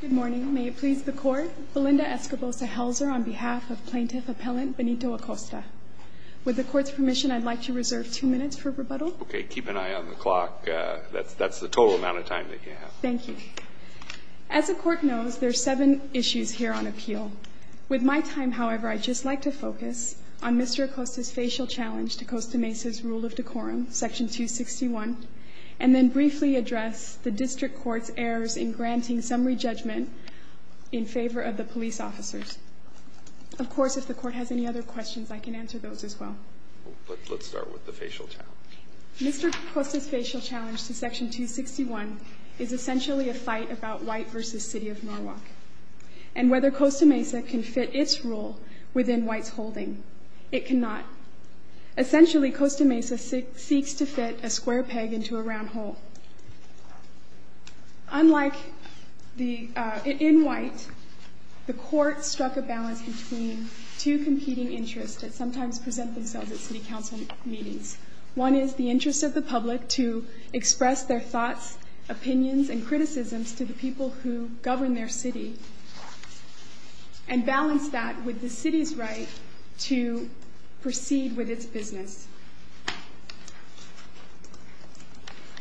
Good morning. May it please the court, Belinda Escobosa-Helzer on behalf of plaintiff appellant Benito Acosta. With the court's permission, I'd like to reserve two minutes for rebuttal. OK, keep an eye on the clock. That's the total amount of time that you have. Thank you. As the court knows, there are seven issues here on appeal. With my time, however, I'd just like to focus on Mr. Acosta's facial challenge to Costa Mesa's rule of decorum, section 261, and then briefly address the district court's errors in granting summary judgment in favor of the police officers. Of course, if the court has any other questions, I can answer those as well. Let's start with the facial challenge. Mr. Acosta's facial challenge to section 261 is essentially a fight about white versus city of Norwalk. And whether Costa Mesa can fit its role within white's holding, it cannot. Essentially, Costa Mesa seeks to fit a square peg into a round hole. Unlike in white, the court struck a balance between two competing interests that sometimes present themselves at city council meetings. One is the interest of the public to express their thoughts, opinions, and criticisms to the people who govern their city and balance that with the city's right to proceed with its business.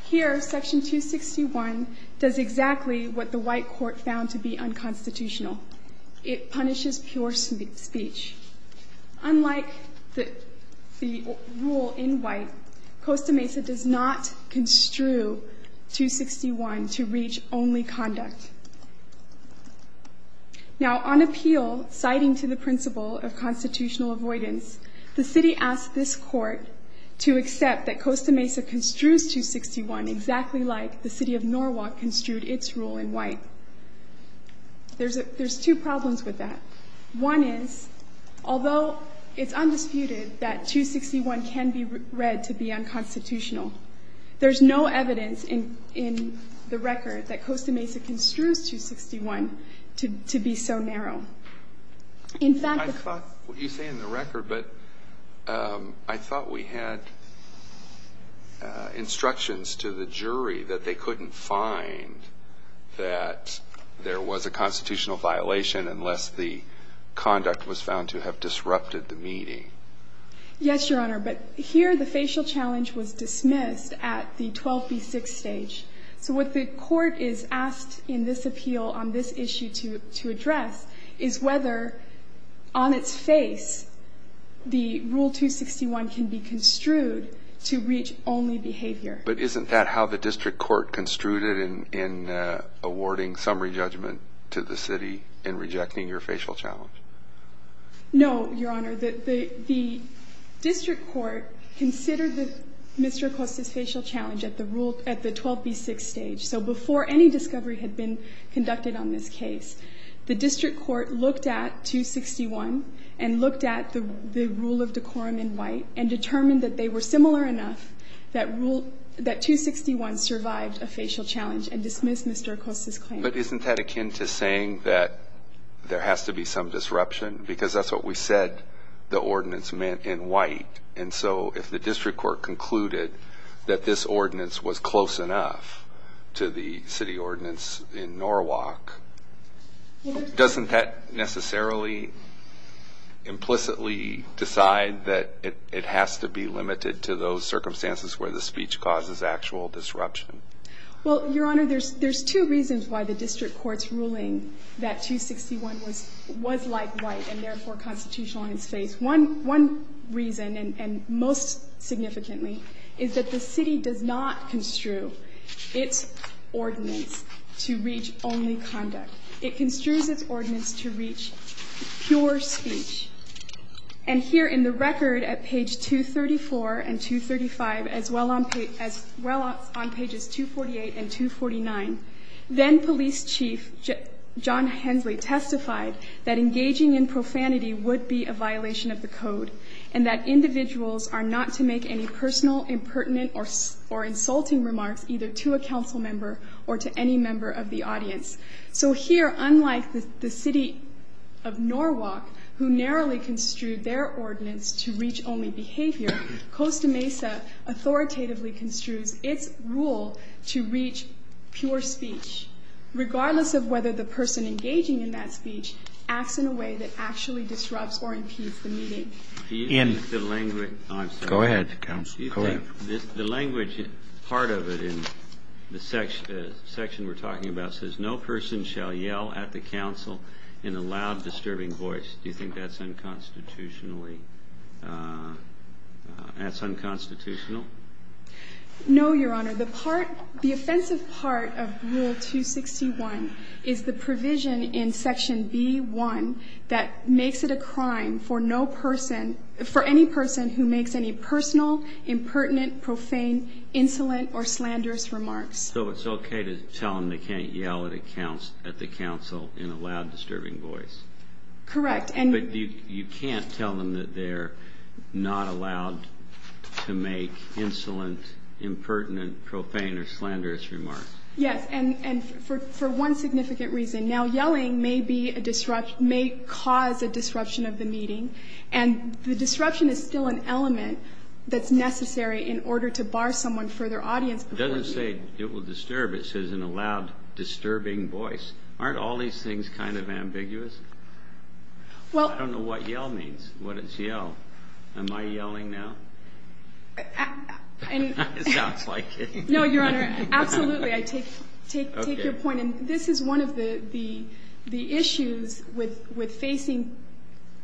Here, section 261 does exactly what the white court found to be unconstitutional. It punishes pure speech. Unlike the rule in white, Costa Mesa does not construe 261 to reach only conduct. Now, on appeal, citing to the principle of constitutional avoidance, the city asked this court to accept that Costa Mesa construes 261 exactly like the city of Norwalk construed its rule in white. There's two problems with that. One is, although it's undisputed that 261 can be read to be unconstitutional, there's no evidence in the record that Costa Mesa construes 261 to be so narrow. In fact, the fact that you say in the record, but I thought we had instructions to the jury that they couldn't find that there was a constitutional violation unless the conduct was found to have disrupted the meeting. Yes, Your Honor, but here the facial challenge was dismissed at the 12B6 stage. So what the court is asked in this appeal on this issue to address is whether, on its face, the rule 261 can be construed to reach only behavior. But isn't that how the district court construed it in awarding summary judgment to the city in rejecting your facial challenge? No, Your Honor, the district court considered Mr. Acosta's facial challenge at the 12B6 stage. So before any discovery had been conducted on this case, the district court looked at 261 and looked at the rule of decorum in white and determined that they were similar enough that 261 survived a facial challenge and dismissed Mr. Acosta's claim. But isn't that akin to saying that there has to be some disruption? Because that's what we said the ordinance meant in white. And so if the district court concluded that this ordinance was close enough to the city ordinance in Norwalk, doesn't that necessarily implicitly decide that it has to be limited to those circumstances where the speech causes actual disruption? Well, Your Honor, there's two reasons why the district court's ruling that 261 was like white and therefore constitutional in its face. One reason, and most significantly, is that the city does not construe its ordinance to reach only conduct. It construes its ordinance to reach pure speech. And here in the record at page 234 and 235, as well on pages 248 and 249, then police chief John Hensley testified that engaging in profanity would be a violation of the code, and that individuals are not to make any personal, impertinent, or insulting remarks either to a council member or to any member of the audience. So here, unlike the city of Norwalk, who narrowly construed their ordinance to reach only behavior, Costa Mesa authoritatively construes its rule to reach pure speech, regardless of whether the person engaging in that speech acts in a way that actually disrupts or impedes the meeting. In the language, I'm sorry. Go ahead, counsel. Go ahead. The language, part of it in the section we're talking about says, no person shall yell at the council in a loud, disturbing voice. Do you think that's unconstitutionally, that's unconstitutional? No, Your Honor. The part, the offensive part of Rule 261 is the provision in Section B1 that makes it a crime for any person who makes any personal, impertinent, profane, insolent, or slanderous remarks. So it's OK to tell them they can't yell at the council in a loud, disturbing voice? Correct. But you can't tell them that they're not allowed to make insolent, impertinent, profane, or slanderous remarks? Yes. And for one significant reason. Now, yelling may cause a disruption of the meeting. And the disruption is still an element that's necessary in order to bar someone for their audience before you. It doesn't say it will disturb. It says in a loud, disturbing voice. Aren't all these things kind of ambiguous? Well, I don't know what yell means, what is yell. Am I yelling now? It sounds like it. No, Your Honor. Absolutely. I take your point. And this is one of the issues with facing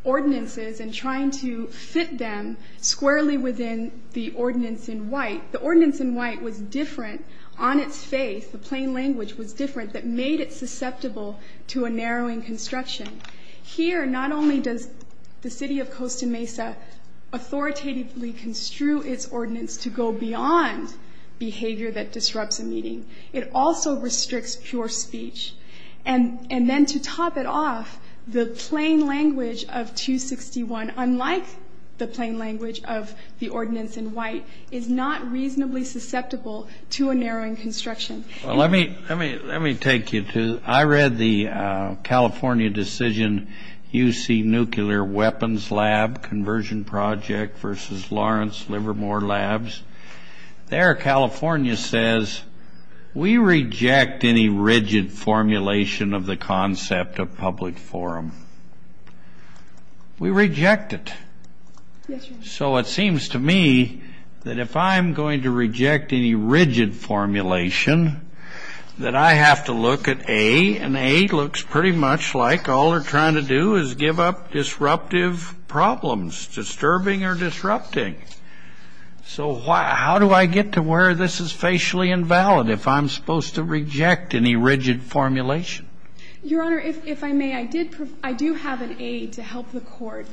ordinances and trying to fit them squarely within the ordinance in white. The ordinance in white was different on its face. The plain language was different. That made it susceptible to a narrowing construction. Here, not only does the city of Costa Mesa authoritatively construe its ordinance to go beyond behavior that disrupts a meeting, it also restricts pure speech. And then to top it off, the plain language of 261, unlike the plain language of the ordinance in white, is not reasonably susceptible to a narrowing construction. Well, let me take you to, I read the California decision, UC Nuclear Weapons Lab Conversion Project versus Lawrence Livermore Labs. There, California says, we reject any rigid formulation of the concept of public forum. We reject it. So it seems to me that if I'm going to reject any rigid formulation, that I have to look at A. And A looks pretty much like all they're trying to do is give up disruptive problems, disturbing or disrupting. So how do I get to where this is facially invalid if I'm supposed to reject any rigid formulation? Your Honor, if I may, I do have an A to help the court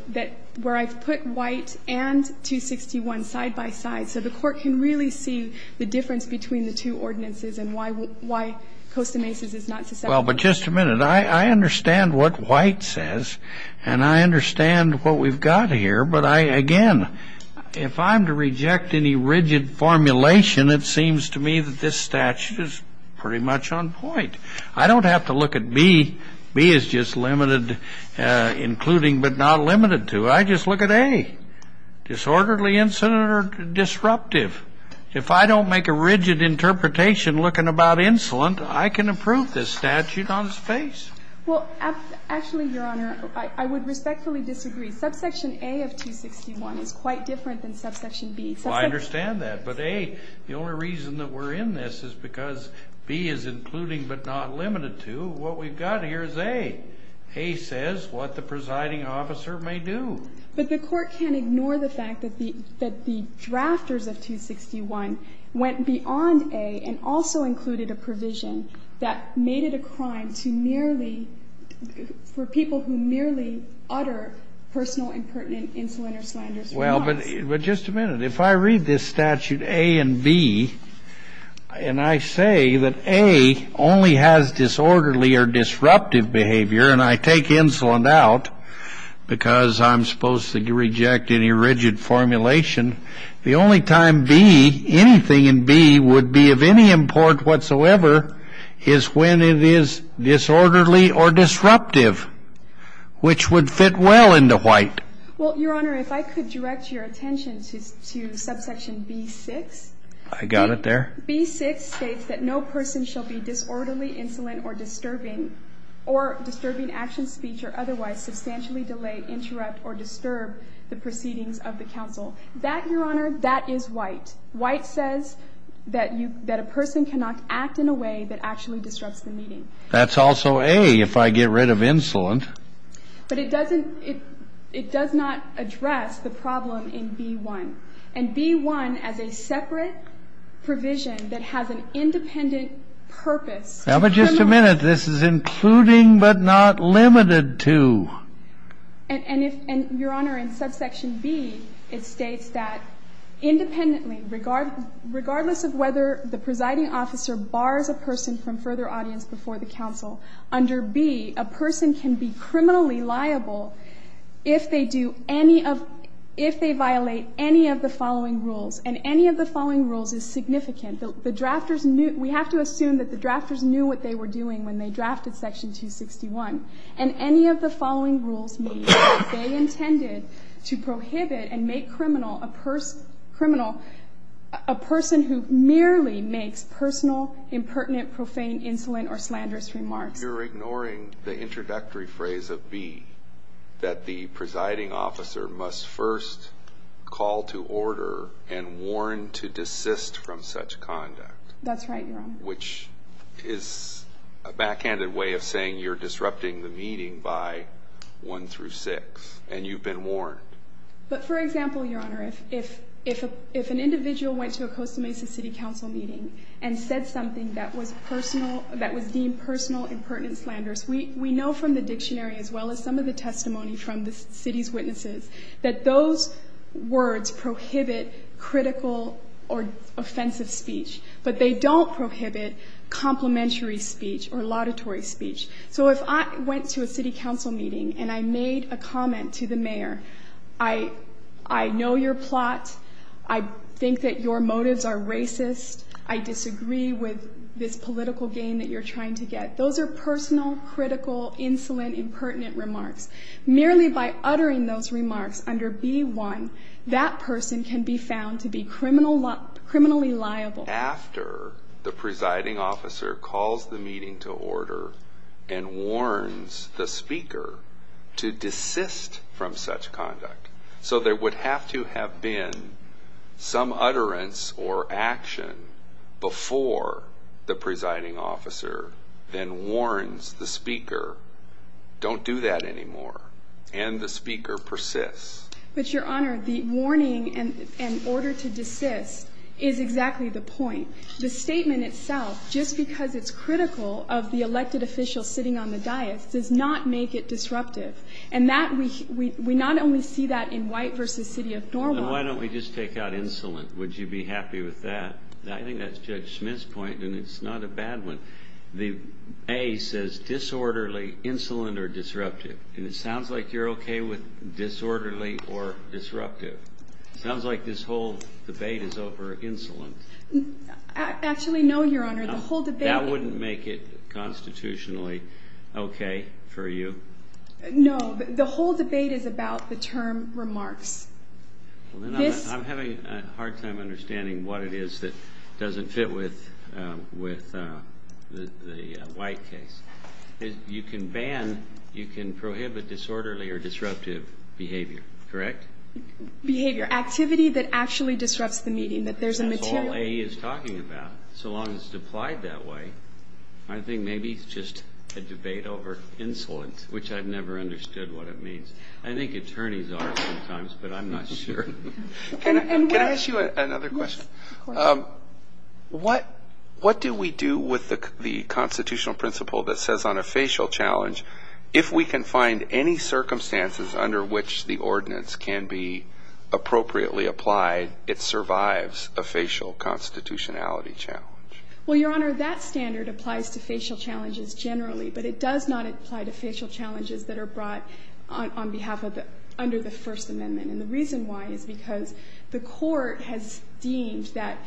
where I've put white and 261 side by side. So the court can really see the difference between the two ordinances and why Costa Mesa's is not susceptible. Well, but just a minute. I understand what White says, and I understand what we've got here. But again, if I'm to reject any rigid formulation, it seems to me that this statute is pretty much on point. I don't have to look at B. B is just limited, including but not limited to. I just look at A, disorderly, incident, or disruptive. If I don't make a rigid interpretation looking about insolent, I can approve this statute on its face. Well, actually, Your Honor, I would respectfully disagree. Subsection A of 261 is quite different than subsection B. Well, I understand that. But A, the only reason that we're in this is because B is including but not limited to. What we've got here is A. A says what the presiding officer may do. But the court can't ignore the fact that the drafters of 261 went beyond A and also included a provision that made it a crime for people who merely utter personal and pertinent insolent or slanderous remarks. Well, but just a minute. If I read this statute A and B, and I say that A only has disorderly or disruptive behavior, and I take insolent out because I'm supposed to reject any rigid formulation, the only time B, anything in B, would be of any import whatsoever is when it is disorderly or disruptive, which would fit well into White. Well, Your Honor, if I could direct your attention to subsection B6. I got it there. B6 states that no person shall be disorderly, insolent, or disturbing, or disturbing action, speech, or otherwise substantially delay, interrupt, or disturb the proceedings of the counsel. That, Your Honor, that is White. White says that a person cannot act in a way that actually disrupts the meeting. That's also A, if I get rid of insolent. But it does not address the problem in B1. And B1, as a separate provision that has an independent purpose, criminally. Now, but just a minute. This is including but not limited to. And Your Honor, in subsection B, it regardless of whether the presiding officer bars a person from further audience before the counsel, under B, a person can be criminally liable if they violate any of the following rules. And any of the following rules is significant. We have to assume that the drafters knew what they were doing when they drafted section 261. And any of the following rules mean they intended to prohibit and make criminal a person who merely makes personal, impertinent, profane, insolent, or slanderous remarks. You're ignoring the introductory phrase of B, that the presiding officer must first call to order and warn to desist from such conduct. That's right, Your Honor. Which is a backhanded way of saying you're disrupting the meeting by one through six, and you've been warned. But for example, Your Honor, if an individual went to a Costa Mesa City Council meeting and said something that was deemed personal, impertinent, slanderous, we know from the dictionary, as well as some of the testimony from the city's witnesses, that those words prohibit critical or offensive speech. But they don't prohibit complimentary speech or laudatory speech. So if I went to a city council meeting and I made a comment to the mayor, I know your plot. I think that your motives are racist. I disagree with this political game that you're trying to get. Those are personal, critical, insolent, impertinent remarks. Merely by uttering those remarks under B1, that person can be found to be criminally liable. After the presiding officer calls the meeting to order and warns the speaker to desist from such conduct. So there would have to have been some utterance or action before the presiding officer then warns the speaker, don't do that anymore. And the speaker persists. But Your Honor, the warning and order to desist is exactly the point. The statement itself, just because it's critical of the elected official sitting on the dais, does not make it disruptive. And we not only see that in White versus City of Norwalk. Then why don't we just take out insolent? Would you be happy with that? I think that's Judge Smith's point, and it's not a bad one. The A says disorderly, insolent, or disruptive. And it sounds like you're OK with disorderly or disruptive. Sounds like this whole debate is over insolence. Actually, no, Your Honor, the whole debate. That wouldn't make it constitutionally OK for you? No, the whole debate is about the term remarks. I'm having a hard time understanding what it is that doesn't fit with the White case. You can ban, you can prohibit disorderly or disruptive behavior, correct? Behavior, activity that actually disrupts the meeting, that there's a material. That's all A is talking about. So long as it's applied that way, I think maybe it's just a debate over insolence, which I've never understood what it means. I think attorneys are sometimes, but I'm not sure. Can I ask you another question? What do we do with the constitutional principle that says on a facial challenge, if we can find any circumstances under which the ordinance can be appropriately applied, it survives a facial constitutionality challenge? Well, Your Honor, that standard applies to facial challenges generally, but it does not apply to facial challenges that are brought under the First Amendment. And the reason why is because the court has deemed that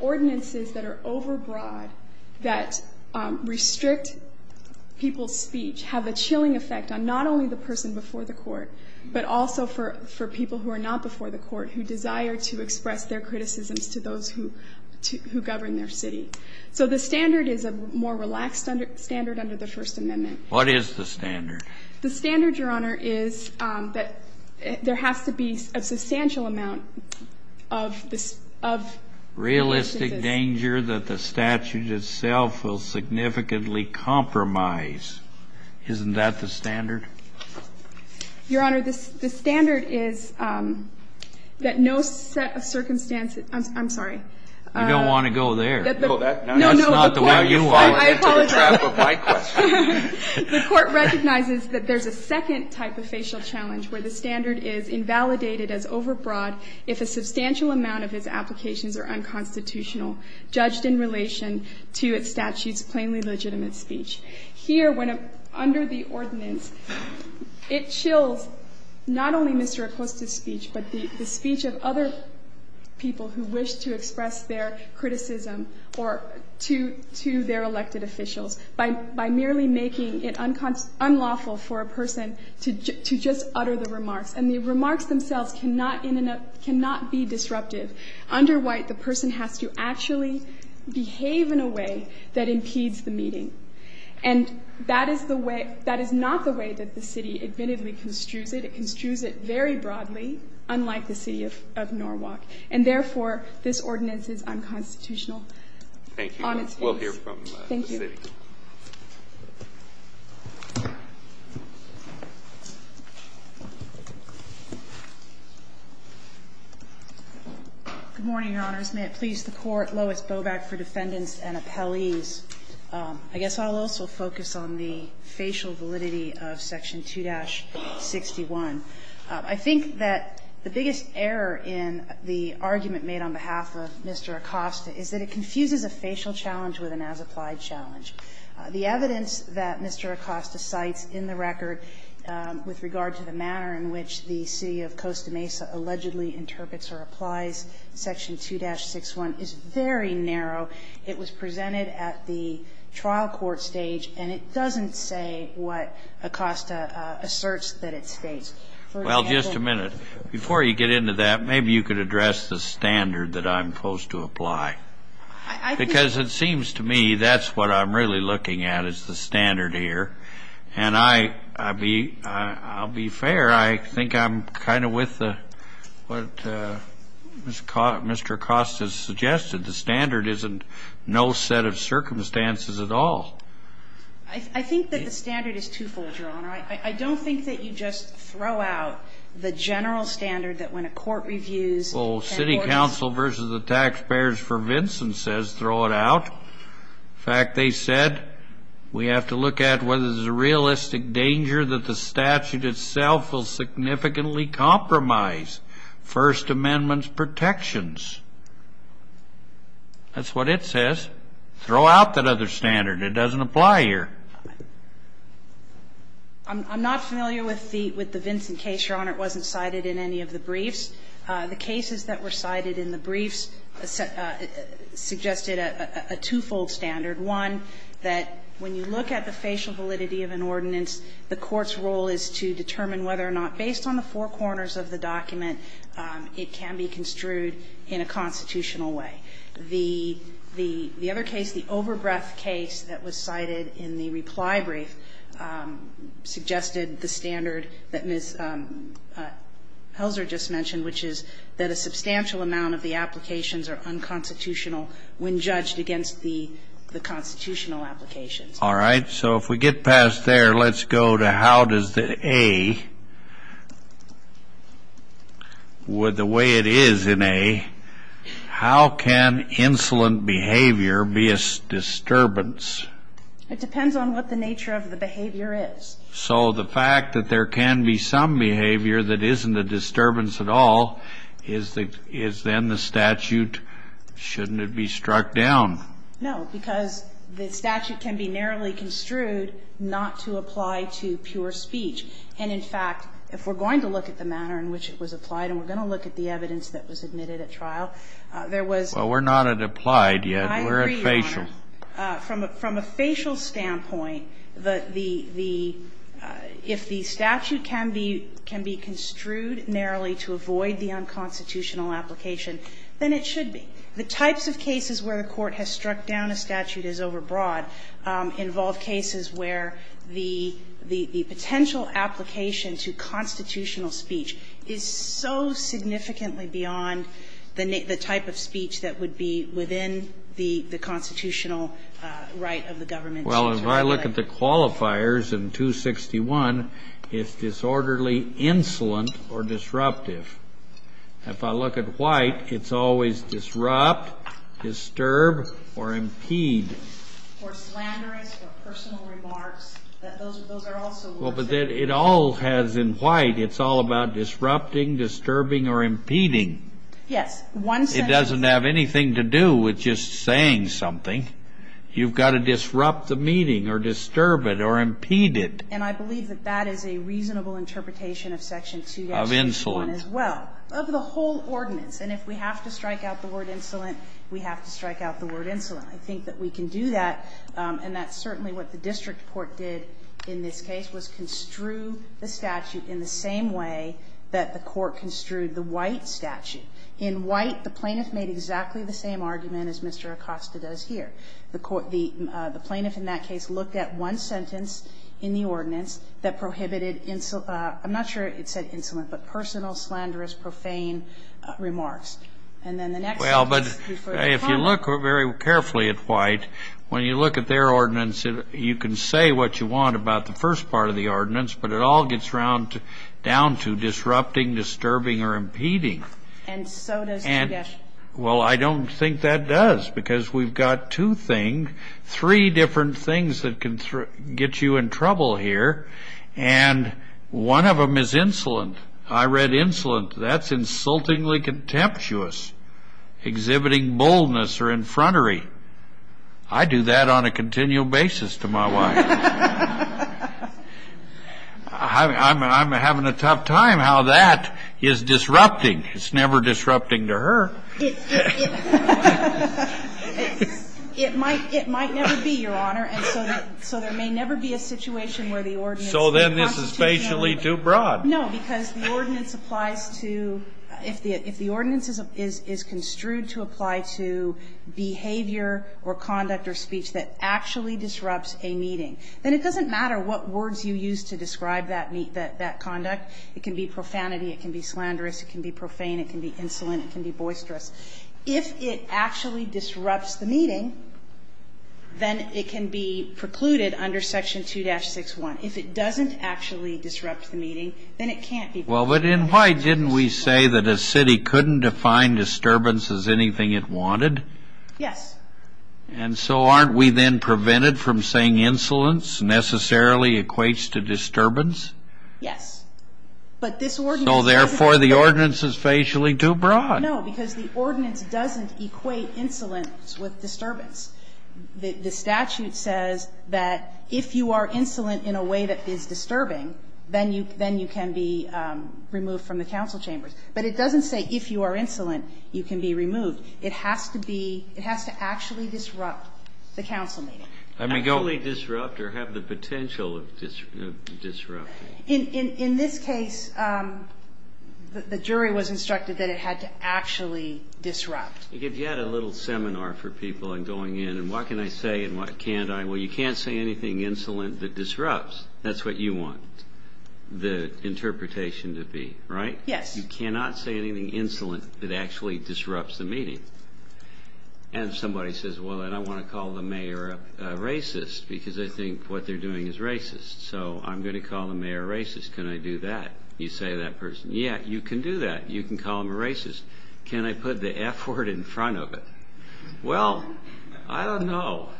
ordinances that are overbroad, that restrict people's speech, have a chilling effect on not only the person before the court, but also for people who are not before the court, who desire to express their criticisms to those who govern their city. So the standard is a more relaxed standard under the First Amendment. What is the standard? The standard, Your Honor, is that there has to be a substantial amount of this, of Realistic danger that the statute itself will significantly compromise. Isn't that the standard? Your Honor, the standard is that no set of circumstances, I'm sorry. You don't want to go there. No, no. That's not the way you want to get to the trap of my question. The court recognizes that there's a second type of facial challenge, where the standard is invalidated as overbroad if a substantial amount of its applications are unconstitutional, judged in relation to its statute's plainly legitimate speech. Here, under the ordinance, it chills not only Mr. Acosta's speech, but the speech of other people who wish to express their criticism or to their elected officials by merely making it unlawful for a person to just utter the remarks. And the remarks themselves cannot be disruptive. Under White, the person has to actually behave in a way that And that is not the way that the city admittedly construes it. It construes it very broadly, unlike the city of Norwalk. And therefore, this ordinance is unconstitutional on its face. Thank you. We'll hear from the city. Thank you. Good morning, Your Honors. May it please the court, Lois Boback for defendants and appellees. I guess I'll also focus on the facial validity of Section 2-61. I think that the biggest error in the argument made on behalf of Mr. Acosta is that it confuses a facial challenge with an as-applied challenge. The evidence that Mr. Acosta cites in the record with regard to the manner in which the city of Costa Mesa allegedly interprets or applies Section 2-61 is very narrow. It was presented at the trial court stage. And it doesn't say what Acosta asserts that it states. Well, just a minute. Before you get into that, maybe you could address the standard that I'm supposed to apply, because it seems to me that's what I'm really looking at is the standard here. And I'll be fair. I think I'm kind of with what Mr. Acosta has suggested. The standard isn't no set of circumstances at all. I think that the standard is twofold, Your Honor. I don't think that you just throw out the general standard that when a court reviews and orders... Well, city council versus the taxpayers for Vincent says throw it out. In fact, they said we have to look at whether there's a realistic danger that the statute itself will significantly compromise First Amendment's protections. That's what it says. Throw out that other standard. It doesn't apply here. I'm not familiar with the Vincent case, Your Honor. It wasn't cited in any of the briefs. The cases that were cited in the briefs suggested a twofold standard. One, that when you look at the facial validity of an ordinance, the court's role is to determine whether or not, based on the four corners of the document, it can be construed in a constitutional way. The other case, the overbreath case that was cited in the reply brief, suggested the standard that Ms. Helzer just mentioned, which is that a substantial amount of the applications are unconstitutional when judged against the constitutional applications. All right. So if we get past there, let's go to how does the A, with the way it is in A, how can insolent behavior be a disturbance? It depends on what the nature of the behavior is. So the fact that there can be some behavior that isn't a disturbance at all, is then the statute, shouldn't it be struck down? No, because the statute can be narrowly construed not to apply to pure speech. And in fact, if we're going to look at the manner in which it was applied, and we're going to look at the evidence that was admitted at trial, there was not at applied We're at facial. I agree, Your Honor. From a facial standpoint, the the if the statute can be can be construed narrowly to avoid the unconstitutional application, then it should be. The types of cases where the Court has struck down a statute as overbroad involve cases where the the the potential application to constitutional speech is so significantly beyond the the type of speech that would be within the the constitutional right of the government. Well, if I look at the qualifiers in 261, it's disorderly, insolent, or disruptive. If I look at White, it's always disrupt, disturb, or impede. Or slanderous or personal remarks. Those are also words that Well, but it all has in White, it's all about disrupting, disturbing, or impeding. Yes. One sentence It doesn't have anything to do with just saying something. You've got to disrupt the meeting or disturb it or impede it. And I believe that that is a reasonable interpretation of Section 2. Of insolence. Well, of the whole ordinance, and if we have to strike out the word insolent, we have to strike out the word insolent. I think that we can do that, and that's certainly what the district court did in this case, was construe the statute in the same way that the Court construed the White statute. In White, the plaintiff made exactly the same argument as Mr. Acosta does here. The plaintiff in that case looked at one sentence in the ordinance that prohibited I'm not sure it said insolent, but personal, slanderous, profane remarks. And then the next sentence Well, but if you look very carefully at White, when you look at their ordinance, you can say what you want about the first part of the ordinance, but it all gets down to disrupting, disturbing, or impeding. And so does the Well, I don't think that does, because we've got two things, three different things that can get you in trouble here, and one of them is insolent. I read insolent. That's insultingly contemptuous, exhibiting boldness or infrontery. I do that on a continual basis to my wife. I'm having a tough time how that is disrupting. It's never disrupting to her. It might never be, Your Honor. And so there may never be a situation where the ordinance So then this is facially too broad. No, because the ordinance applies to, if the ordinance is construed to apply to behavior or conduct or speech that actually disrupts a meeting, then it doesn't matter what words you use to describe that conduct. It can be profanity, it can be slanderous, it can be profane, it can be insolent, it can be boisterous. If it actually disrupts the meeting, then it can be precluded under Section 2-6-1. If it doesn't actually disrupt the meeting, then it can't be precluded. Well, but then why didn't we say that a city couldn't define disturbance as anything it wanted? Yes. And so aren't we then prevented from saying insolence necessarily equates to disturbance? Yes. So therefore, the ordinance is facially too broad. No, because the ordinance doesn't equate insolence with disturbance. The statute says that if you are insolent in a way that is disturbing, then you can be removed from the council chambers. But it doesn't say if you are insolent, you can be removed. It has to actually disrupt the council meeting. Actually disrupt or have the potential of disrupting. In this case, the jury was instructed that it had to actually disrupt. If you had a little seminar for people and going in, and what can I say and what can't I, well, you can't say anything insolent that disrupts. That's what you want the interpretation to be, right? Yes. You cannot say anything insolent that actually disrupts the meeting. And somebody says, well, I don't want to call the mayor a racist because I think what they're doing is racist. So I'm going to call the mayor a racist. Can I do that? You say to that person, yeah, you can do that. You can call him a racist. Can I put the F word in front of it? Well, I don't know.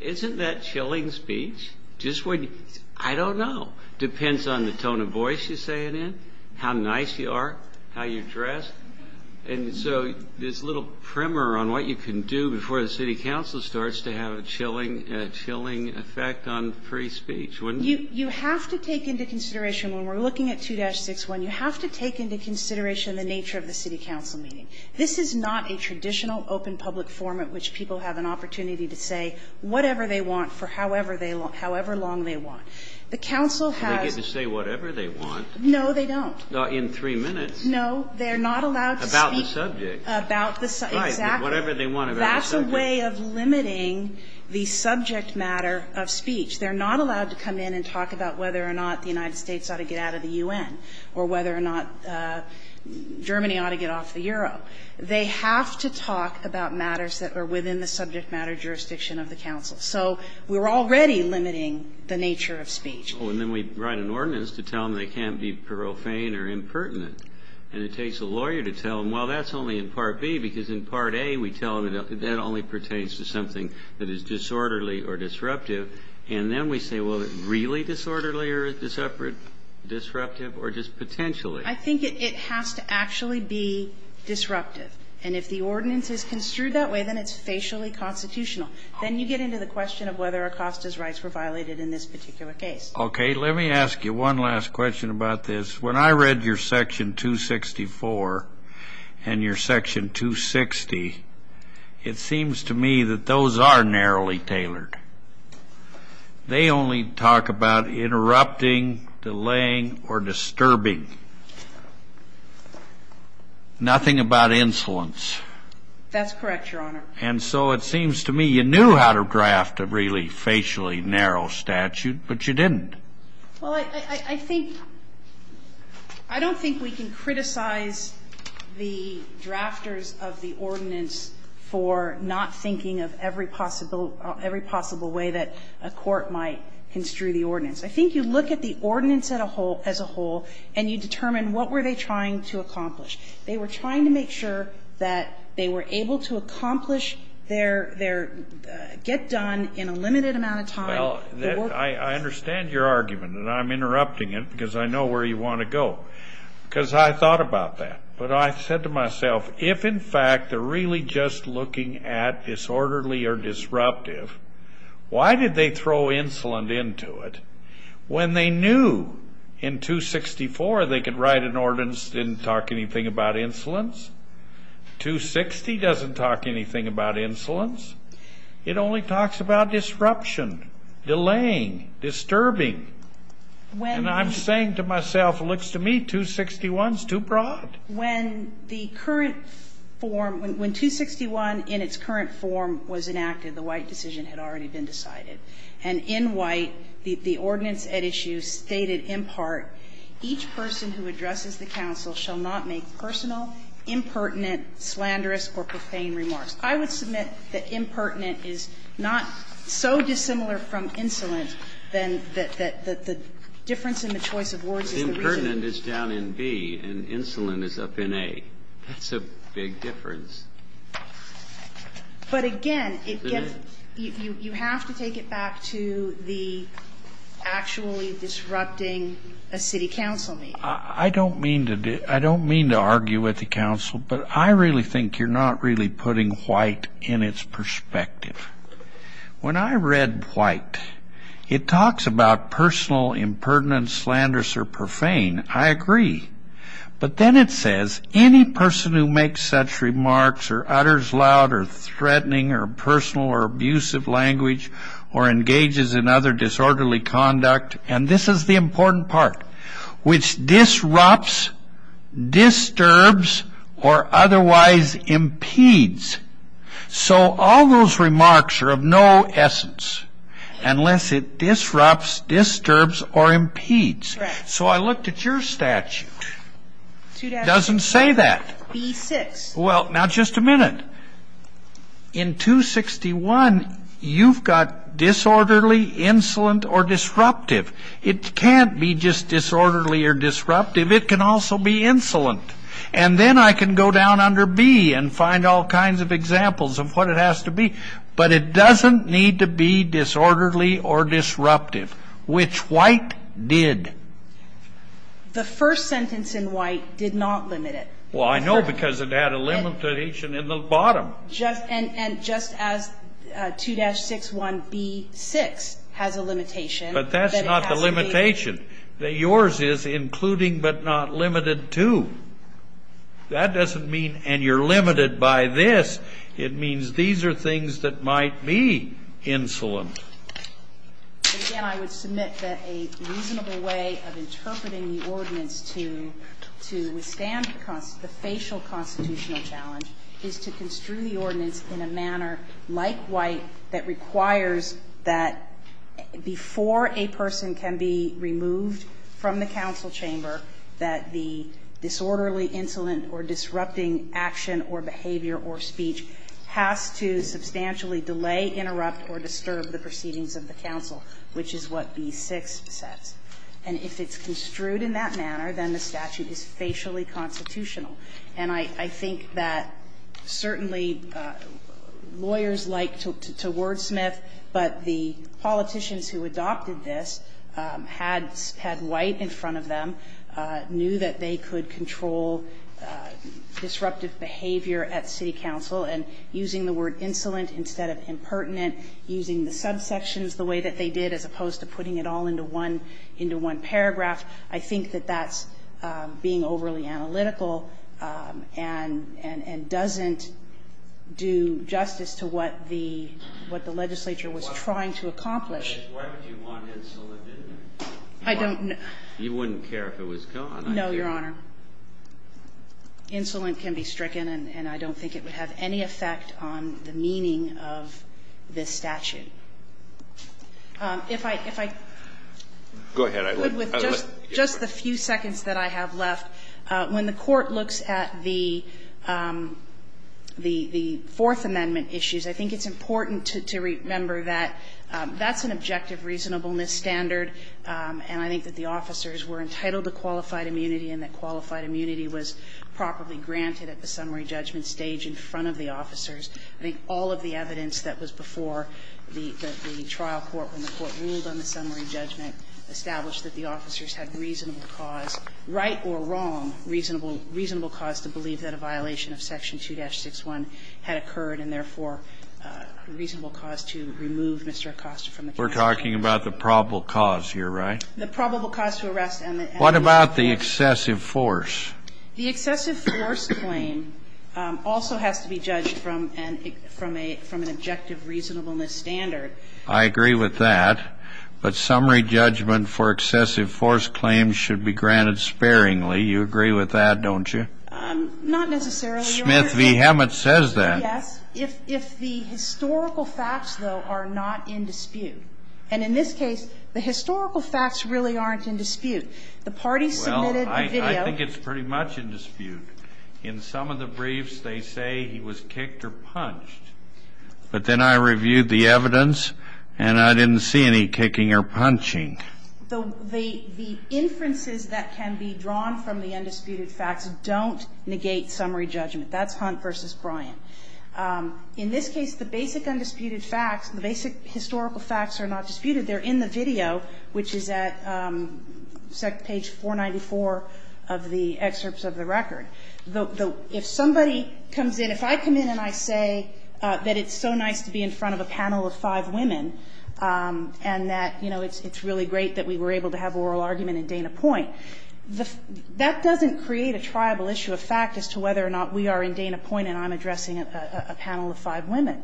Isn't that chilling speech? Just when you, I don't know. Depends on the tone of voice you're saying in, how nice you are, how you dress. And so this little primer on what you can do before the city council starts to have a chilling effect on free speech, wouldn't it? You have to take into consideration, when we're looking at 2-61, you have to take into consideration the nature of the city council meeting. This is not a traditional open public forum at which people have an opportunity to say whatever they want for however long they want. The council has. They get to say whatever they want. No, they don't. In three minutes. No, they're not allowed to speak. About the subject. About the subject. Right, whatever they want about the subject. It's a way of limiting the subject matter of speech. They're not allowed to come in and talk about whether or not the United States ought to get out of the U.N., or whether or not Germany ought to get off the Euro. They have to talk about matters that are within the subject matter jurisdiction of the council. So we're already limiting the nature of speech. Well, and then we write an ordinance to tell them they can't be parophane or impertinent. And it takes a lawyer to tell them, well, that's only in Part B, because in Part A, we tell them that that only pertains to something that is disorderly or disruptive. And then we say, well, is it really disorderly or disruptive or just potentially? I think it has to actually be disruptive. And if the ordinance is construed that way, then it's facially constitutional. Then you get into the question of whether Acosta's rights were violated in this particular case. Okay. Let me ask you one last question about this. When I read your Section 264 and your Section 260, it seems to me that those are narrowly tailored. They only talk about interrupting, delaying, or disturbing, nothing about insolence. That's correct, Your Honor. And so it seems to me you knew how to draft a really facially narrow statute, but you didn't. Well, I think we can't criticize the drafters of the ordinance for not thinking of every possible way that a court might construe the ordinance. I think you look at the ordinance as a whole and you determine what were they trying to accomplish. They were trying to make sure that they were able to accomplish their get done in a limited amount of time. I understand your argument, and I'm interrupting it because I know where you want to go, because I thought about that. But I said to myself, if in fact they're really just looking at disorderly or disruptive, why did they throw insolence into it when they knew in 264 they could write an ordinance that didn't talk anything about insolence? 260 doesn't talk anything about insolence. It only talks about disruption, delaying, disturbing. And I'm saying to myself, it looks to me 261 is too broad. When the current form, when 261 in its current form was enacted, the White decision had already been decided. And in White, the ordinance at issue stated in part, each person who addresses the counsel shall not make personal, impertinent, slanderous, or profane remarks. I would submit that impertinent is not so dissimilar from insolent, then that the difference in the choice of words is the reason. Impertinent is down in B, and insolent is up in A. That's a big difference. But again, it gets you have to take it back to the actually disrupting a city counsel meeting. I don't mean to do I don't mean to argue with the counsel, but I really think you're getting White in its perspective. When I read White, it talks about personal, impertinent, slanderous, or profane. I agree. But then it says, any person who makes such remarks or utters loud or threatening or personal or abusive language or engages in other disorderly conduct, and this is the important part, which disrupts, disturbs, or otherwise impedes. So all those remarks are of no essence unless it disrupts, disturbs, or impedes. So I looked at your statute. It doesn't say that. Well, now just a minute. In 261, you've got disorderly, insolent, or disruptive. It can't be just disorderly or disruptive. It can also be insolent. And then I can go down under B and find all kinds of examples of what it has to be. But it doesn't need to be disorderly or disruptive, which White did. The first sentence in White did not limit it. Well, I know because it had a limitation in the bottom. And just as 2-61b-6 has a limitation, that it has to be. But that's not the limitation. Yours is including but not limited to. That doesn't mean and you're limited by this. It means these are things that might be insolent. And again, I would submit that a reasonable way of interpreting the ordinance to withstand the facial constitutional challenge is to construe the ordinance in a manner like White that requires that before a person can be removed from the council chamber, that the disorderly, insolent, or disrupting action or behavior or speech has to substantially delay, interrupt, or disturb the proceedings of the council, which is what B-6 says. And if it's construed in that manner, then the statute is facially constitutional. And I think that certainly lawyers like to wordsmith, but the politicians who adopted this had White in front of them, knew that they could control disruptive behavior at city council, and using the word insolent instead of impertinent, using the subsections the way that they did as opposed to putting it all into one paragraph, I think that that's being overly analytical and doesn't do justice to what the legislature was trying to accomplish. I don't know. You wouldn't care if it was gone. No, Your Honor. Insolent can be stricken, and I don't think it would have any effect on the meaning of this statute. If I could with just the few seconds that I have left. When the Court looks at the Fourth Amendment issues, I think it's important to remember that that's an objective reasonableness standard, and I think that the reasonableness standard is that it's a reasonable cause to believe that a violation of Section 2-61 had occurred and, therefore, a reasonable cause to remove Mr. Acosta from the counsel. We're talking about the probable cause here, right? The probable cause to arrest and the excess of force. What about the excessive force? The excessive force claim also has to be judged from an objective reasonableness standard. I agree with that. But summary judgment for excessive force claims should be granted sparingly. You agree with that, don't you? Not necessarily, Your Honor. Smith v. Hammett says that. Yes. If the historical facts, though, are not in dispute. And in this case, the historical facts really aren't in dispute. The parties submitted a video. I think it's pretty much in dispute. In some of the briefs, they say he was kicked or punched. But then I reviewed the evidence, and I didn't see any kicking or punching. The inferences that can be drawn from the undisputed facts don't negate summary judgment. That's Hunt v. Bryant. In this case, the basic undisputed facts, the basic historical facts are not disputed. They're in the video, which is at page 494 of the excerpts of the record. If somebody comes in, if I come in and I say that it's so nice to be in front of a panel of five women and that, you know, it's really great that we were able to have oral argument in Dana Point, that doesn't create a triable issue of fact as to whether or not we are in Dana Point and I'm addressing a panel of five women.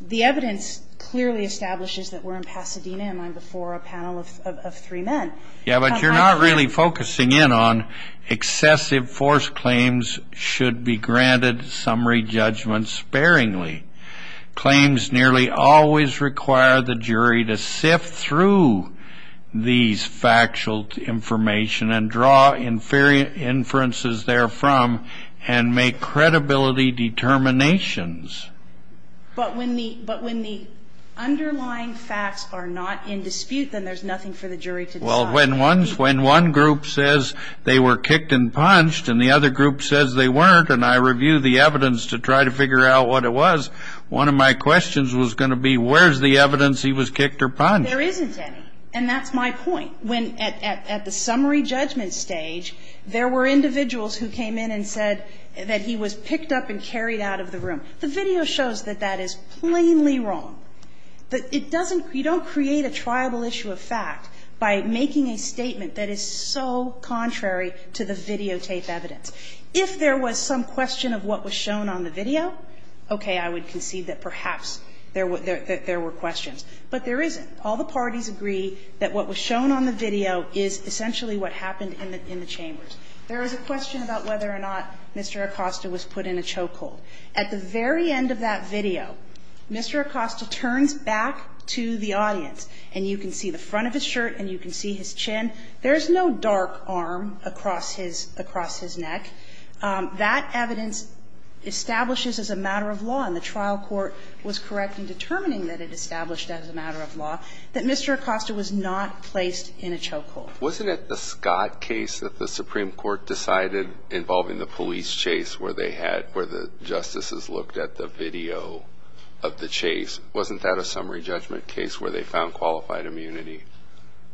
The evidence clearly establishes that we're in Pasadena and I'm before a panel of three men. Yeah, but you're not really focusing in on excessive force claims should be granted summary judgment sparingly. Claims nearly always require the jury to sift through these factual information and draw inferences therefrom and make credibility determinations. But when the underlying facts are not in dispute, then there's nothing for the jury to decide. Well, when one group says they were kicked and punched and the other group says they weren't and I review the evidence to try to figure out what it was, one of my questions was going to be where's the evidence he was kicked or punched. There isn't any. And that's my point. When at the summary judgment stage, there were individuals who came in and said that he was picked up and carried out of the room. The video shows that that is plainly wrong. But it doesn't you don't create a triable issue of fact by making a statement that is so contrary to the videotape evidence. If there was some question of what was shown on the video, okay, I would concede that perhaps there were questions. But there isn't. All the parties agree that what was shown on the video is essentially what happened in the chambers. There is a question about whether or not Mr. Acosta was put in a chokehold. At the very end of that video, Mr. Acosta turns back to the audience, and you can see the front of his shirt and you can see his chin. There is no dark arm across his neck. That evidence establishes as a matter of law, and the trial court was correct in determining that it established as a matter of law, that Mr. Acosta was not placed in a chokehold. Wasn't it the Scott case that the Supreme Court decided involving the police chase where they had, where the justices looked at the video of the chase? Wasn't that a summary judgment case where they found qualified immunity?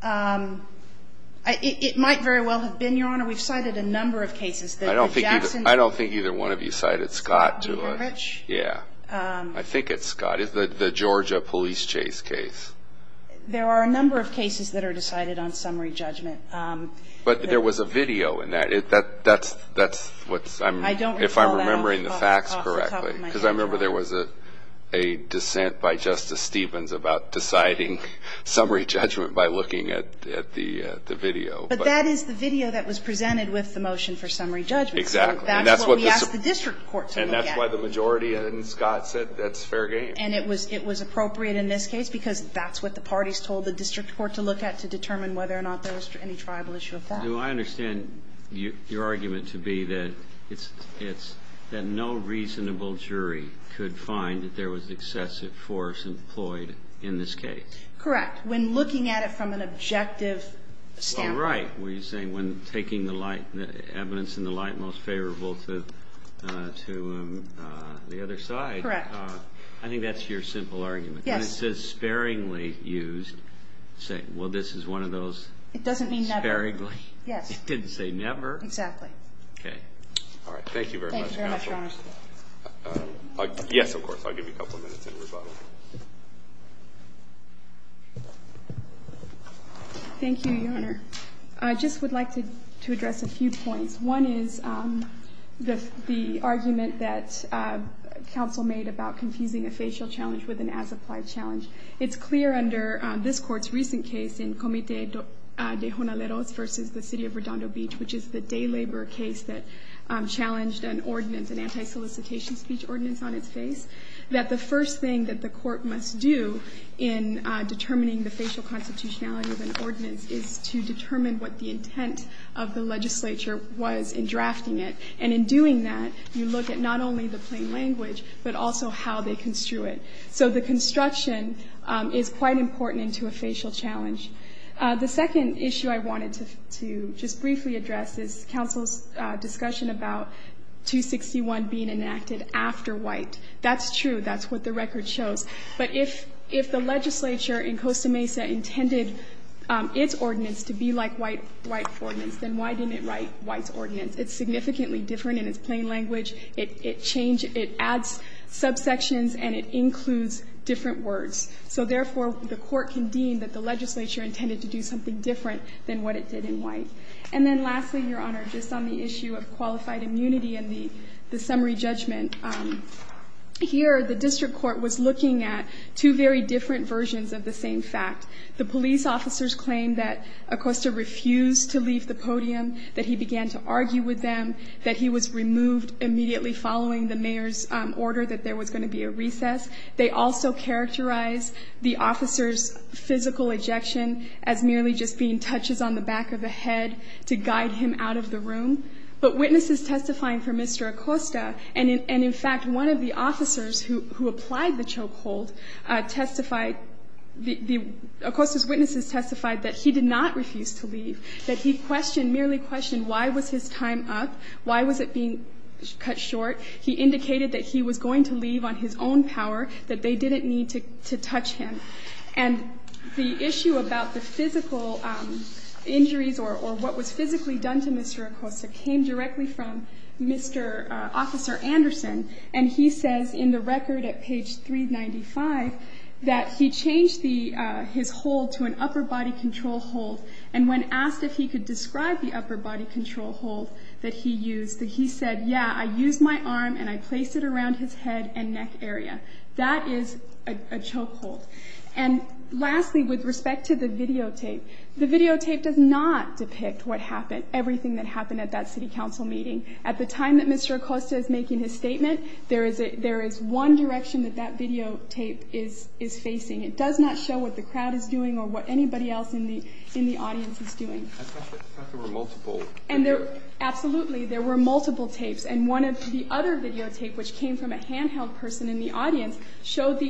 It might very well have been, Your Honor. We've cited a number of cases. I don't think either one of you cited Scott to us. Scott D. Hurwicz? Yeah. I think it's Scott. The Georgia police chase case. There are a number of cases that are decided on summary judgment. But there was a video in that. That's what's, if I'm remembering the facts correctly. I don't recall that off the top of my head, Your Honor. Because I remember there was a dissent by Justice Stevens about deciding summary judgment by looking at the video. But that is the video that was presented with the motion for summary judgment. And that's what we asked the district court to look at. That's why the majority in Scott said that's fair game. And it was appropriate in this case because that's what the parties told the district court to look at to determine whether or not there was any tribal issue of that. Do I understand your argument to be that it's, that no reasonable jury could find that there was excessive force employed in this case? Correct. When looking at it from an objective standpoint. You're right when you're saying when taking the evidence in the light most favorable to the other side. Correct. I think that's your simple argument. Yes. When it says sparingly used, say, well, this is one of those. It doesn't mean never. Sparingly. Yes. It didn't say never. Exactly. Okay. All right. Thank you very much, counsel. Thank you very much, Your Honor. Yes, of course. I'll give you a couple of minutes in rebuttal. Thank you, Your Honor. I just would like to address a few points. One is the argument that counsel made about confusing a facial challenge with an as-applied challenge. It's clear under this court's recent case in Comite de Jonaleros versus the City of Redondo Beach, which is the day labor case that challenged an ordinance, an anti-solicitation speech ordinance on its face, that the first thing that the court must do in determining the facial constitutionality of an ordinance is to determine what the intent of the legislature was in drafting it. And in doing that, you look at not only the plain language, but also how they construe it. So the construction is quite important into a facial challenge. The second issue I wanted to just briefly address is counsel's discussion about 261 being enacted after White. That's true. That's what the record shows. But if the legislature in Costa Mesa intended its ordinance to be like White's ordinance, then why didn't it write White's ordinance? It's significantly different in its plain language. It adds subsections, and it includes different words. So therefore, the court can deem that the legislature intended to do something different than what it did in White. And then lastly, Your Honor, just on the issue of qualified immunity and the summary judgment, here the district court was looking at two very different versions of the same fact. The police officers claimed that Acosta refused to leave the podium, that he began to argue with them, that he was removed immediately following the mayor's order that there was going to be a recess. They also characterized the officer's physical ejection as merely just being touches on the back of the head to guide him out of the room. But witnesses testifying for Mr. Acosta, and in fact, one of the officers who applied the choke hold, testified, Acosta's witnesses testified that he did not refuse to leave, that he questioned, merely questioned, why was his time up? Why was it being cut short? He indicated that he was going to leave on his own power, that they didn't need to touch him. And the issue about the physical injuries or what was physically done to Mr. Acosta came directly from Mr. Officer Anderson. And he says in the record at page 395 that he changed his hold to an upper body control hold, and when asked if he could describe the upper body control hold that he used, that he said, yeah, I used my arm and I placed it around his head and neck area. That is a choke hold. And lastly, with respect to the videotape, the videotape does not depict what happened, everything that happened at that city council meeting. At the time that Mr. Acosta is making his statement, there is one direction that that videotape is facing. It does not show what the crowd is doing or what anybody else in the audience is doing. And there were multiple. Absolutely, there were multiple tapes. And one of the other videotapes, which came from a handheld person in the audience, showed the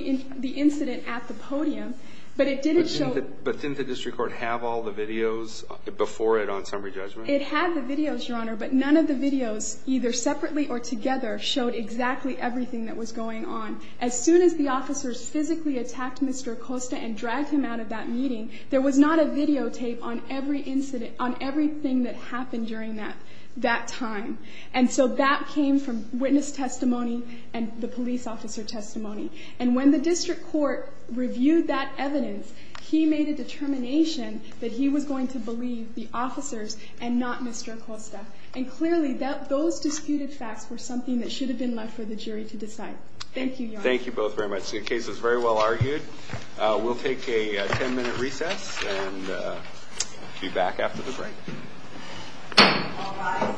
incident at the podium, but it didn't show. But didn't the district court have all the videos before it on summary judgment? It had the videos, Your Honor, but none of the videos, either separately or together, showed exactly everything that was going on. As soon as the officers physically attacked Mr. Acosta and dragged him out of that meeting, there was not a videotape on every incident, on everything that happened during that time. And so that came from witness testimony and the police officer testimony. And when the district court reviewed that evidence, he made a determination that he was going to believe the officers and not Mr. Acosta. And clearly, those disputed facts were something that should have been left for the jury to decide. Thank you, Your Honor. Thank you both very much. The case was very well argued. We'll take a ten-minute recess and be back after the break. All rise.